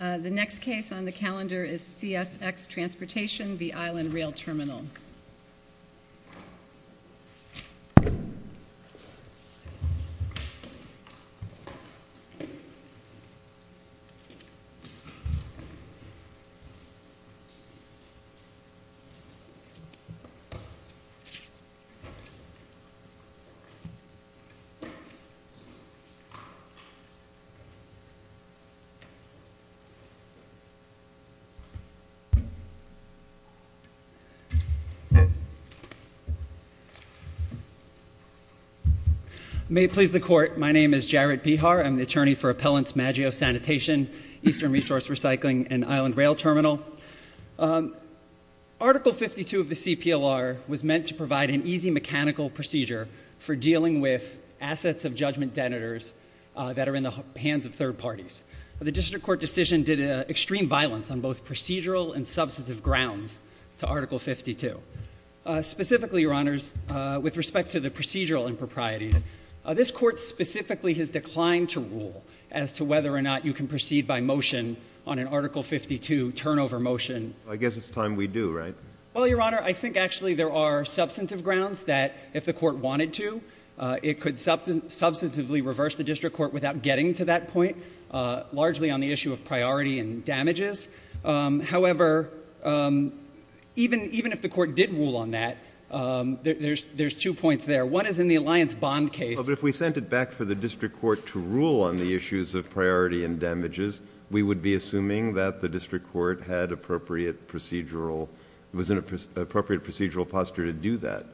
The next case on the calendar is CSX Transportation v. Island Rail Terminal. May it please the Court, my name is Jarrett Behar. I'm the attorney for Appellants Maggio Sanitation, Eastern Resource Recycling, and Island Rail Terminal. Article 52 of the CPLR was meant to provide an easy mechanical procedure for dealing with assets of judgment debtors that are in the hands of third parties. The District Court decision did extreme violence on both procedural and substantive grounds to Article 52. Specifically, Your Honors, with respect to the procedural improprieties, this Court specifically has declined to rule as to whether or not you can proceed by motion on an Article 52 turnover motion. I guess it's time we do, right? Well, Your Honor, I think actually there are substantive grounds that if the Court wanted to, it could substantively reverse the District Court without getting to that point, largely on the issue of priority and damages. However, even if the Court did rule on that, there's two points there. One is in the alliance bond case. Well, but if we sent it back for the District Court to rule on the issues of priority and damages, we would be assuming that the District Court had appropriate procedural, was in an appropriate procedural posture to do that.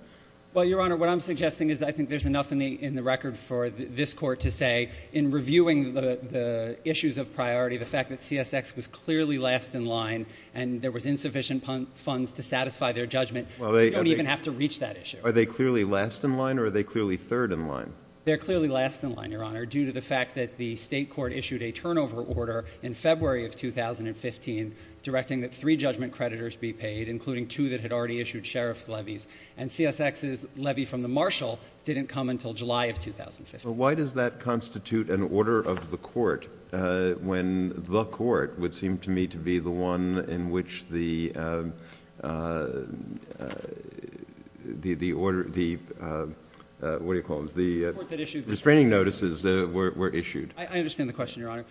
Well, Your Honor, what I'm suggesting is I think there's enough in the record for this Court to say, in reviewing the issues of priority, the fact that CSX was clearly last in line and there was insufficient funds to satisfy their judgment, you don't even have to reach that issue. Are they clearly last in line or are they clearly third in line? They're clearly last in line, Your Honor, due to the fact that the State Court issued a turnover order in February of 2015 directing that three judgment creditors be paid, including two that had already issued sheriff's levies. And CSX's levy from the Marshal didn't come until July of 2015. Well, why does that constitute an order of the court when the court would seem to me to be the one in which the restraining notices were issued? I understand the question, Your Honor.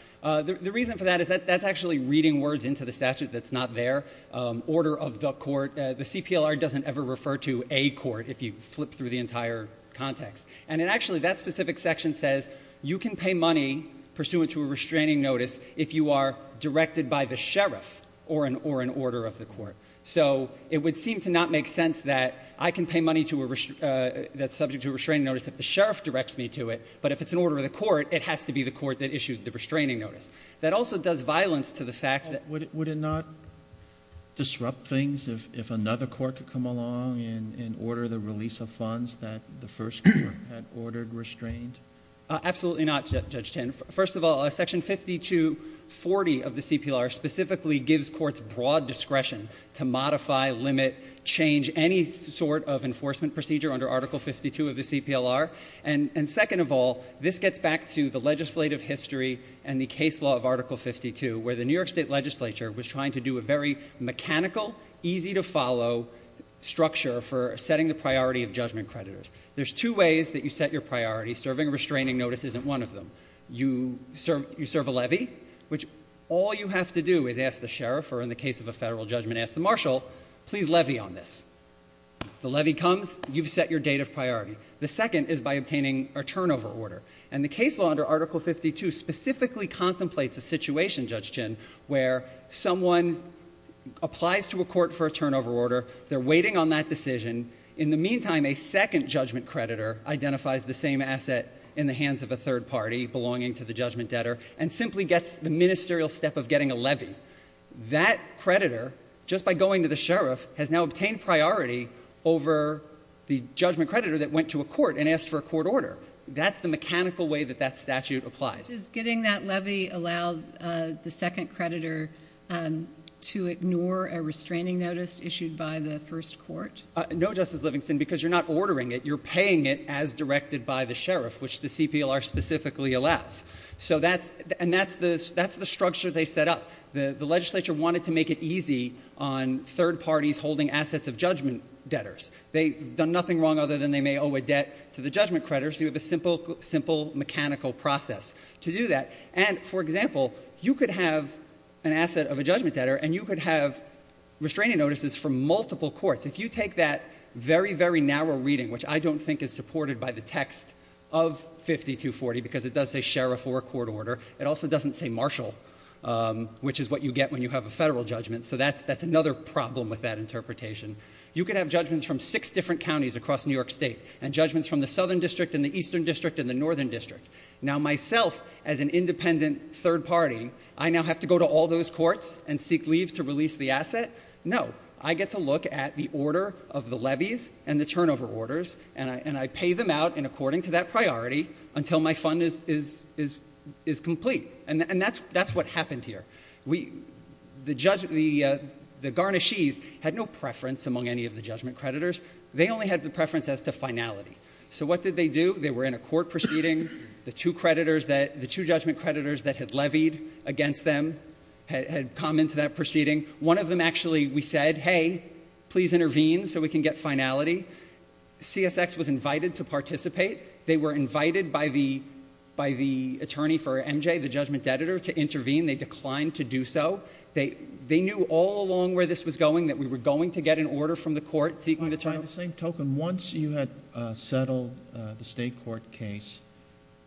The reason for that is that that's actually reading words into the statute that's not there, order of the court. The CPLR doesn't ever refer to a court if you flip through the entire context. And actually, that specific section says you can pay money pursuant to a restraining notice if you are directed by the sheriff or an order of the court. So it would seem to not make sense that I can pay money that's subject to a restraining notice if the sheriff directs me to it. But if it's an order of the court, it has to be the court that issued the restraining notice. That also does violence to the fact that- Would it not disrupt things if another court could come along and order the release of funds that the first court had ordered restrained? Absolutely not, Judge Tin. First of all, Section 5240 of the CPLR specifically gives courts broad discretion to modify, limit, change any sort of enforcement procedure under Article 52 of the CPLR. And second of all, this gets back to the legislative history and the case law of Article 52, where the New York State Legislature was trying to do a very mechanical, easy to follow structure for setting the priority of judgment creditors. There's two ways that you set your priority. Serving a restraining notice isn't one of them. You serve a levy, which all you have to do is ask the sheriff or in the case of a federal judgment, ask the marshal, please levy on this. The levy comes, you've set your date of priority. The second is by obtaining a turnover order. And the case law under Article 52 specifically contemplates a situation, Judge Tin, where someone applies to a court for a turnover order, they're waiting on that decision. In the meantime, a second judgment creditor identifies the same asset in the hands of a third party, belonging to the judgment debtor, and simply gets the ministerial step of getting a levy. That creditor, just by going to the sheriff, has now obtained priority over the judgment creditor that went to a court and asked for a court order. That's the mechanical way that that statute applies. Does getting that levy allow the second creditor to ignore a restraining notice issued by the first court? No, Justice Livingston, because you're not ordering it. You're paying it as directed by the sheriff, which the CPLR specifically allows. And that's the structure they set up. The legislature wanted to make it easy on third parties holding assets of judgment debtors. They've done nothing wrong other than they may owe a debt to the judgment creditor, so you have a simple mechanical process to do that. And, for example, you could have an asset of a judgment debtor, and you could have restraining notices from multiple courts. If you take that very, very narrow reading, which I don't think is supported by the text of 5240, because it does say sheriff or court order, it also doesn't say marshal, which is what you get when you have a federal judgment, so that's another problem with that interpretation. You could have judgments from six different counties across New York State, and judgments from the Southern District and the Eastern District and the Northern District. Now, myself, as an independent third party, I now have to go to all those courts and seek leave to release the asset? No. I get to look at the order of the levies and the turnover orders, and I pay them out in according to that priority until my fund is complete. And that's what happened here. The garnishees had no preference among any of the judgment creditors. They only had the preference as to finality. So what did they do? They were in a court proceeding. The two judgment creditors that had levied against them had come into that proceeding. One of them, actually, we said, hey, please intervene so we can get finality. CSX was invited to participate. They were invited by the attorney for MJ, the judgment debtor, to intervene. They declined to do so. They knew all along where this was going, that we were going to get an order from the court seeking the term. By the same token, once you had settled the state court case,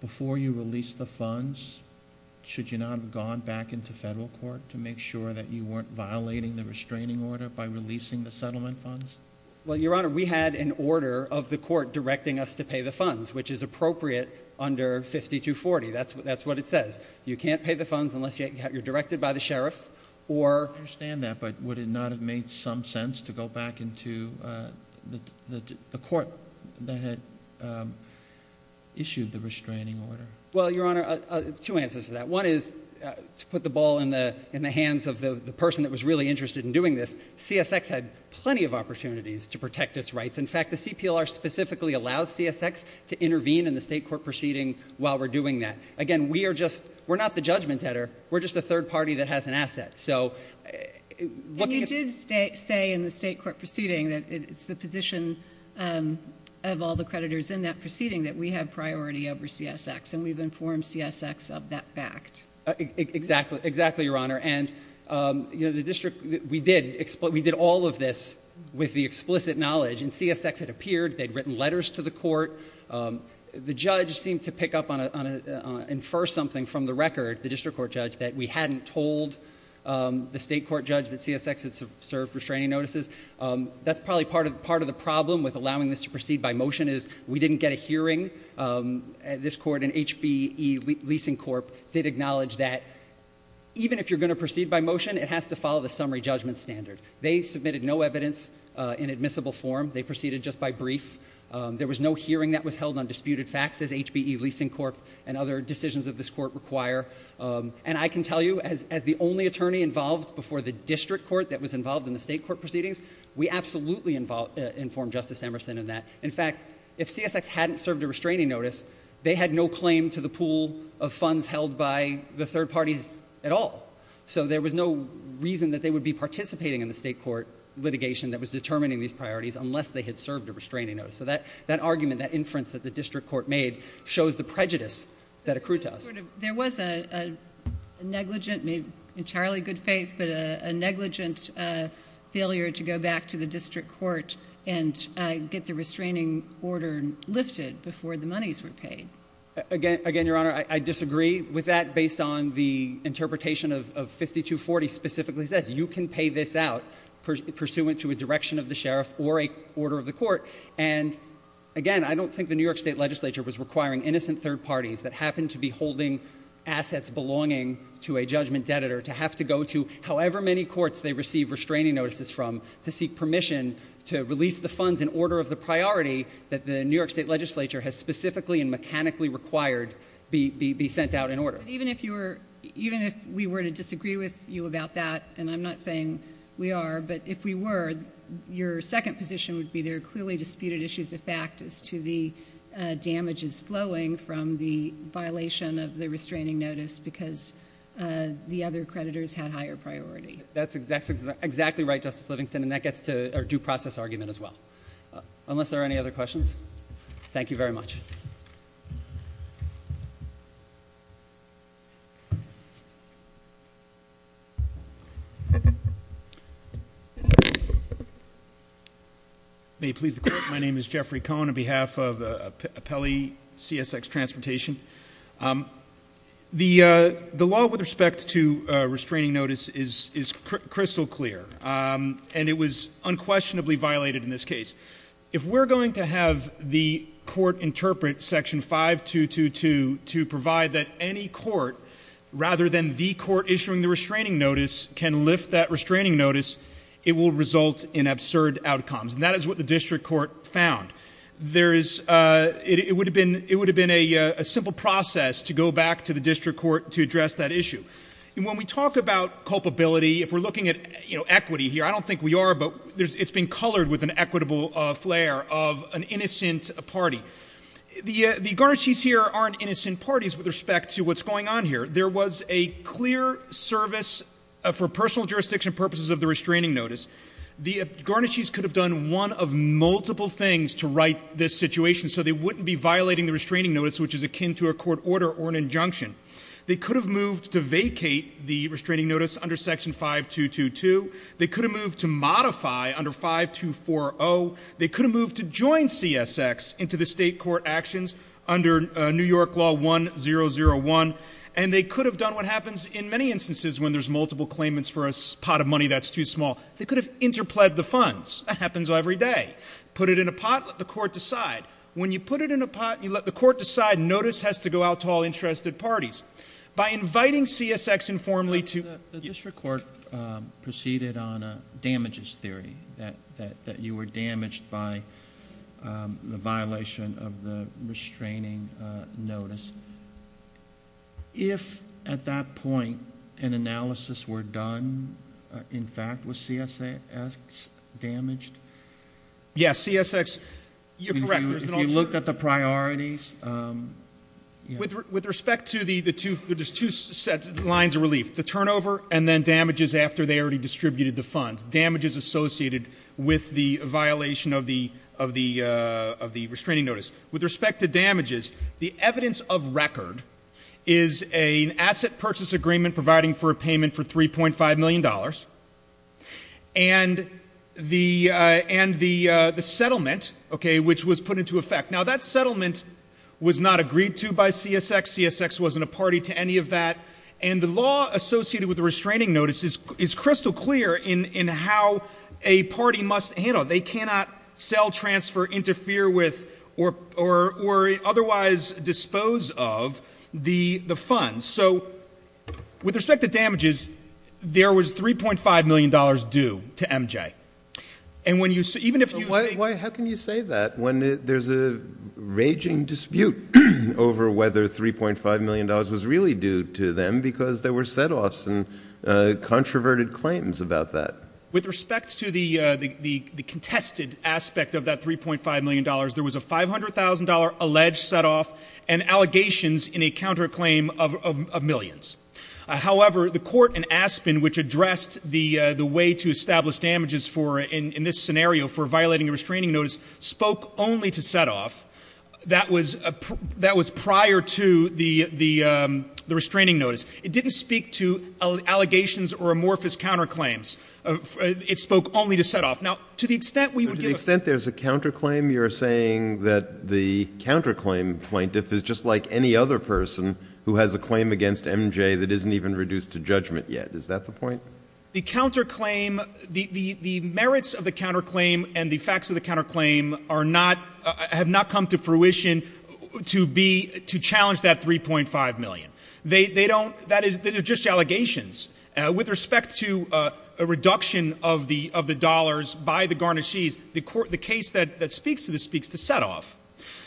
before you released the funds, should you not have gone back into federal court to make sure that you weren't violating the restraining order by releasing the settlement funds? Well, Your Honor, we had an order of the court directing us to pay the funds, which is appropriate under 5240. That's what it says. You can't pay the funds unless you're directed by the sheriff. I understand that, but would it not have made some sense to go back into the court that had issued the restraining order? Well, Your Honor, two answers to that. One is to put the ball in the hands of the person that was really interested in doing this. CSX had plenty of opportunities to protect its rights. In fact, the CPLR specifically allows CSX to intervene in the state court proceeding while we're doing that. Again, we're not the judgment header. We're just a third party that has an asset. And you did say in the state court proceeding that it's the position of all the creditors in that proceeding that we have priority over CSX, and we've informed CSX of that fact. Exactly, Your Honor. And we did all of this with the explicit knowledge, and CSX had appeared. They'd written letters to the court. The judge seemed to pick up on and infer something from the record, the district court judge, that we hadn't told the state court judge that CSX had served restraining notices. That's probably part of the problem with allowing this to proceed by motion is we didn't get a hearing. This court in HBE Leasing Corp. did acknowledge that even if you're going to proceed by motion, it has to follow the summary judgment standard. They submitted no evidence in admissible form. They proceeded just by brief. There was no hearing that was held on disputed facts, as HBE Leasing Corp. and other decisions of this court require. And I can tell you, as the only attorney involved before the district court that was involved in the state court proceedings, we absolutely informed Justice Emerson of that. In fact, if CSX hadn't served a restraining notice, they had no claim to the pool of funds held by the third parties at all. So there was no reason that they would be participating in the state court litigation that was determining these priorities unless they had served a restraining notice. So that argument, that inference that the district court made, shows the prejudice that accrued to us. There was a negligent, maybe entirely good faith, but a negligent failure to go back to the district court and get the restraining order lifted before the monies were paid. Again, Your Honor, I disagree with that based on the interpretation of 5240 specifically says you can pay this out pursuant to a direction of the sheriff or a order of the court. And again, I don't think the New York State Legislature was requiring innocent third parties that happened to be holding assets belonging to a judgment debitor to have to go to however many courts they receive restraining notices from to seek permission to release the funds in order of the priority that the New York State Legislature has specifically and mechanically required be sent out in order. Even if we were to disagree with you about that, and I'm not saying we are, but if we were, your second position would be there are clearly disputed issues of fact as to the damages flowing from the violation of the restraining notice because the other creditors had higher priority. That's exactly right, Justice Livingston, and that gets to our due process argument as well. Unless there are any other questions, thank you very much. May it please the Court, my name is Jeffrey Cohen on behalf of Pele CSX Transportation. The law with respect to restraining notice is crystal clear, and it was unquestionably violated in this case. If we're going to have the court interpret Section 5222 to provide that any court, rather than the court issuing the restraining notice, can lift that restraining notice, it will result in absurd outcomes. And that is what the district court found. It would have been a simple process to go back to the district court to address that issue. And when we talk about culpability, if we're looking at equity here, I don't think we are, but it's been colored with an equitable flair of an innocent party. The Guarnaschis here aren't innocent parties with respect to what's going on here. There was a clear service for personal jurisdiction purposes of the restraining notice. The Guarnaschis could have done one of multiple things to right this situation so they wouldn't be violating the restraining notice, which is akin to a court order or an injunction. They could have moved to vacate the restraining notice under Section 5222. They could have moved to modify under 5240. They could have moved to join CSX into the state court actions under New York Law 1001. And they could have done what happens in many instances when there's multiple claimants for a pot of money that's too small. They could have interpled the funds. That happens every day. Put it in a pot, let the court decide. When you put it in a pot, you let the court decide. Notice has to go out to all interested parties. By inviting CSX informally to— The district court proceeded on a damages theory that you were damaged by the violation of the restraining notice. If at that point an analysis were done, in fact, was CSX damaged? Yes, CSX—you're correct. If you looked at the priorities— With respect to the two lines of relief, the turnover and then damages after they already distributed the funds, damages associated with the violation of the restraining notice. With respect to damages, the evidence of record is an asset purchase agreement providing for a payment for $3.5 million. And the settlement, which was put into effect. Now, that settlement was not agreed to by CSX. CSX wasn't a party to any of that. And the law associated with the restraining notice is crystal clear in how a party must handle it. They cannot sell, transfer, interfere with, or otherwise dispose of the funds. With respect to damages, there was $3.5 million due to MJ. How can you say that when there's a raging dispute over whether $3.5 million was really due to them because there were setoffs and controverted claims about that? With respect to the contested aspect of that $3.5 million, there was a $500,000 alleged setoff and allegations in a counterclaim of millions. However, the court in Aspen, which addressed the way to establish damages in this scenario for violating a restraining notice, spoke only to setoff. That was prior to the restraining notice. It didn't speak to allegations or amorphous counterclaims. It spoke only to setoff. To the extent there's a counterclaim, you're saying that the counterclaim plaintiff is just like any other person who has a claim against MJ that isn't even reduced to judgment yet. Is that the point? The merits of the counterclaim and the facts of the counterclaim have not come to fruition to challenge that $3.5 million. They're just allegations. With respect to a reduction of the dollars by the garnishees, the case that speaks to this speaks to setoff.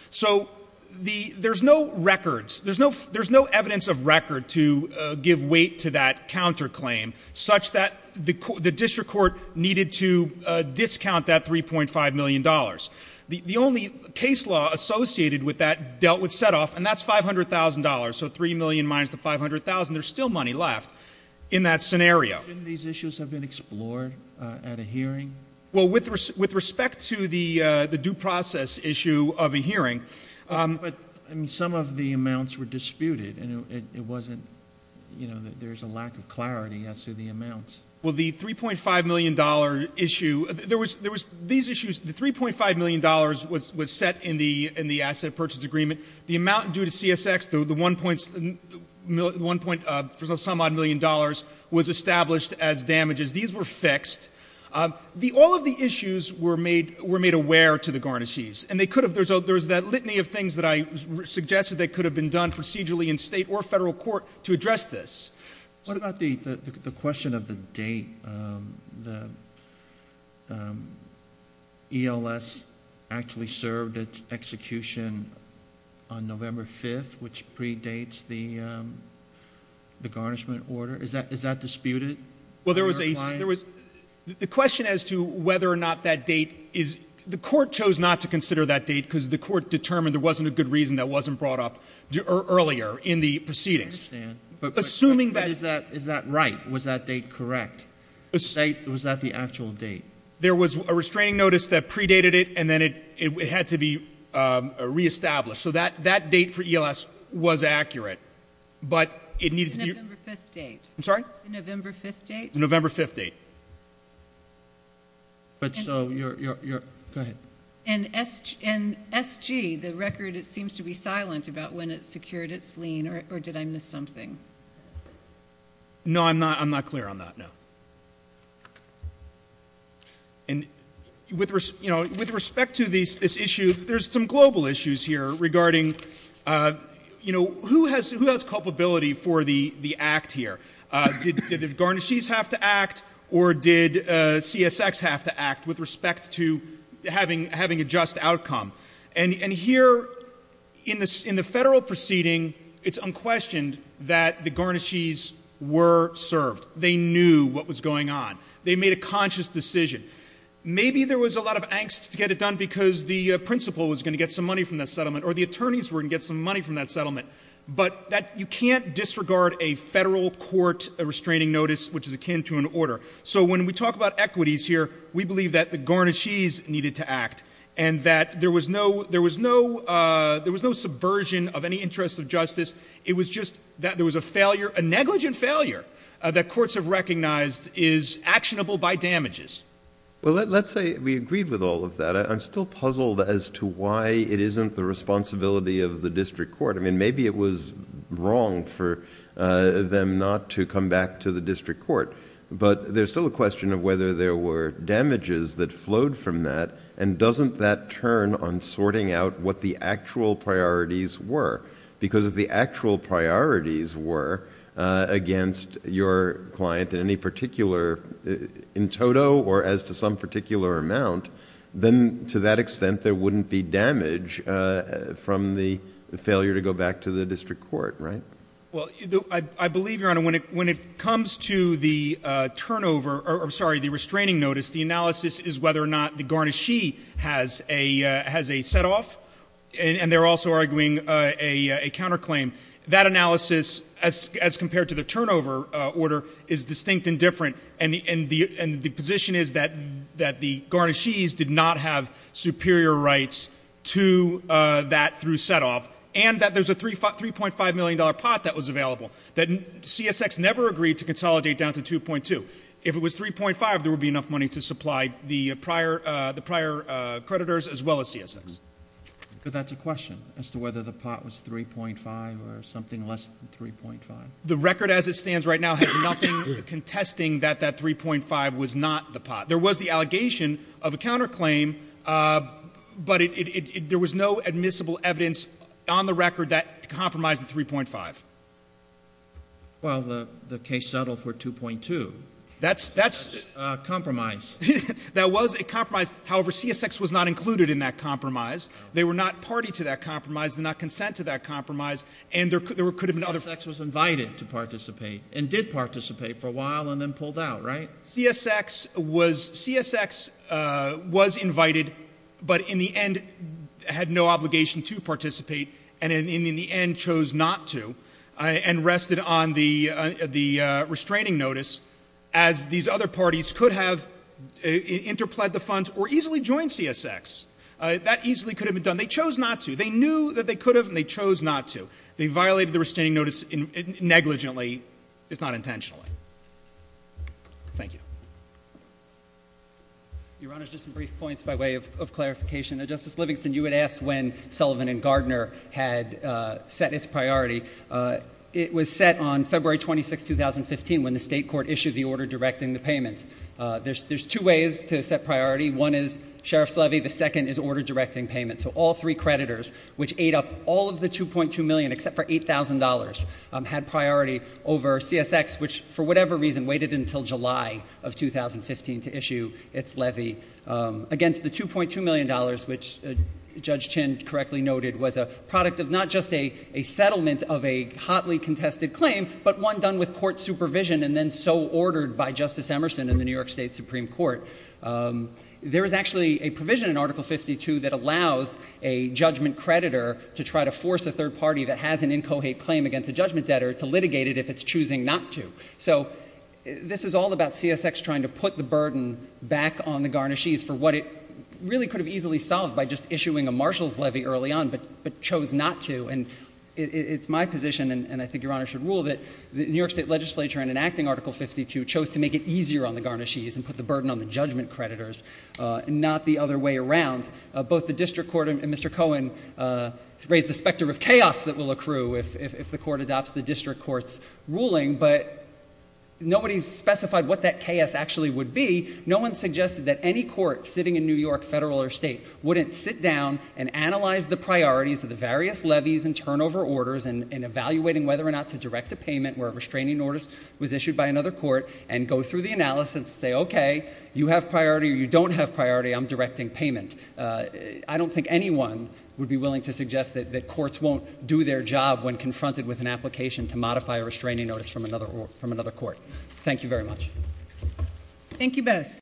So there's no records. There's no evidence of record to give weight to that counterclaim such that the district court needed to discount that $3.5 million. The only case law associated with that dealt with setoff, and that's $500,000. So $3 million minus the $500,000, there's still money left in that scenario. Shouldn't these issues have been explored at a hearing? Well, with respect to the due process issue of a hearing. But some of the amounts were disputed, and it wasn't, you know, there's a lack of clarity as to the amounts. Well, the $3.5 million issue, there was these issues, the $3.5 million was set in the asset purchase agreement. The amount due to CSX, the $1.-some-odd-million was established as damages. These were fixed. All of the issues were made aware to the garnishees, and they could have. There's that litany of things that I suggested that could have been done procedurally in state or federal court to address this. What about the question of the date? The ELS actually served its execution on November 5th, which predates the garnishment order. Is that disputed? Well, there was a question as to whether or not that date is the court chose not to consider that date because the court determined there wasn't a good reason that wasn't brought up earlier in the proceedings. I understand. But is that right? Was that date correct? Was that the actual date? There was a restraining notice that predated it, and then it had to be reestablished. So that date for ELS was accurate, but it needed to be— The November 5th date. I'm sorry? The November 5th date. The November 5th date. But so you're—go ahead. And SG, the record, it seems to be silent about when it secured its lien, or did I miss something? No, I'm not clear on that, no. And with respect to this issue, there's some global issues here regarding, you know, who has culpability for the act here? Did the Guarnaschis have to act or did CSX have to act with respect to having a just outcome? And here in the Federal proceeding, it's unquestioned that the Guarnaschis were served. They knew what was going on. They made a conscious decision. Maybe there was a lot of angst to get it done because the principal was going to get some money from that settlement or the attorneys were going to get some money from that settlement. But you can't disregard a Federal court restraining notice which is akin to an order. So when we talk about equities here, we believe that the Guarnaschis needed to act and that there was no subversion of any interest of justice. It was just that there was a failure, a negligent failure that courts have recognized is actionable by damages. Well, let's say we agreed with all of that. I'm still puzzled as to why it isn't the responsibility of the district court. I mean, maybe it was wrong for them not to come back to the district court. But there's still a question of whether there were damages that flowed from that and doesn't that turn on sorting out what the actual priorities were? Because if the actual priorities were against your client in any particular... to that extent, there wouldn't be damage from the failure to go back to the district court, right? Well, I believe, Your Honor, when it comes to the turnover... I'm sorry, the restraining notice, the analysis is whether or not the Guarnaschis has a setoff. And they're also arguing a counterclaim. That analysis, as compared to the turnover order, is distinct and different. And the position is that the Guarnaschis did not have superior rights to that through setoff. And that there's a $3.5 million pot that was available that CSX never agreed to consolidate down to 2.2. If it was 3.5, there would be enough money to supply the prior creditors as well as CSX. But that's a question as to whether the pot was 3.5 or something less than 3.5. The record as it stands right now has nothing contesting that that 3.5 was not the pot. There was the allegation of a counterclaim, but there was no admissible evidence on the record that compromised the 3.5. Well, the case settled for 2.2. That's... That's a compromise. That was a compromise. However, CSX was not included in that compromise. They were not party to that compromise. They did not consent to that compromise. And there could have been other... They were invited to participate and did participate for a while and then pulled out, right? CSX was invited but in the end had no obligation to participate and in the end chose not to and rested on the restraining notice as these other parties could have interplied the funds or easily joined CSX. That easily could have been done. They chose not to. They knew that they could have, and they chose not to. They violated the restraining notice negligently, if not intentionally. Thank you. Your Honor, just some brief points by way of clarification. Now, Justice Livingston, you had asked when Sullivan and Gardner had set its priority. It was set on February 26, 2015 when the state court issued the order directing the payment. There's two ways to set priority. One is Sheriff's levy. The second is order directing payment. So all three creditors, which ate up all of the $2.2 million except for $8,000, had priority over CSX, which for whatever reason waited until July of 2015 to issue its levy against the $2.2 million, which Judge Chin correctly noted was a product of not just a settlement of a hotly contested claim, but one done with court supervision and then so ordered by Justice Emerson in the New York State Supreme Court. There is actually a provision in Article 52 that allows a judgment creditor to try to force a third party that has an incohate claim against a judgment debtor to litigate it if it's choosing not to. So this is all about CSX trying to put the burden back on the Garnaschis for what it really could have easily solved by just issuing a marshal's levy early on, but chose not to. And it's my position, and I think Your Honor should rule, that the New York State legislature, in enacting Article 52, chose to make it easier on the Garnaschis and put the burden on the judgment creditors, not the other way around. Both the district court and Mr. Cohen raise the specter of chaos that will accrue if the court adopts the district court's ruling, but nobody's specified what that chaos actually would be. No one suggested that any court sitting in New York, federal or state, wouldn't sit down and analyze the priorities of the various levies and turnover orders and evaluating whether or not to direct a payment where a restraining order was issued by another court, and go through the analysis and say, okay, you have priority or you don't have priority, I'm directing payment. I don't think anyone would be willing to suggest that courts won't do their job when confronted with an application to modify a restraining notice from another court. Thank you very much. Thank you both.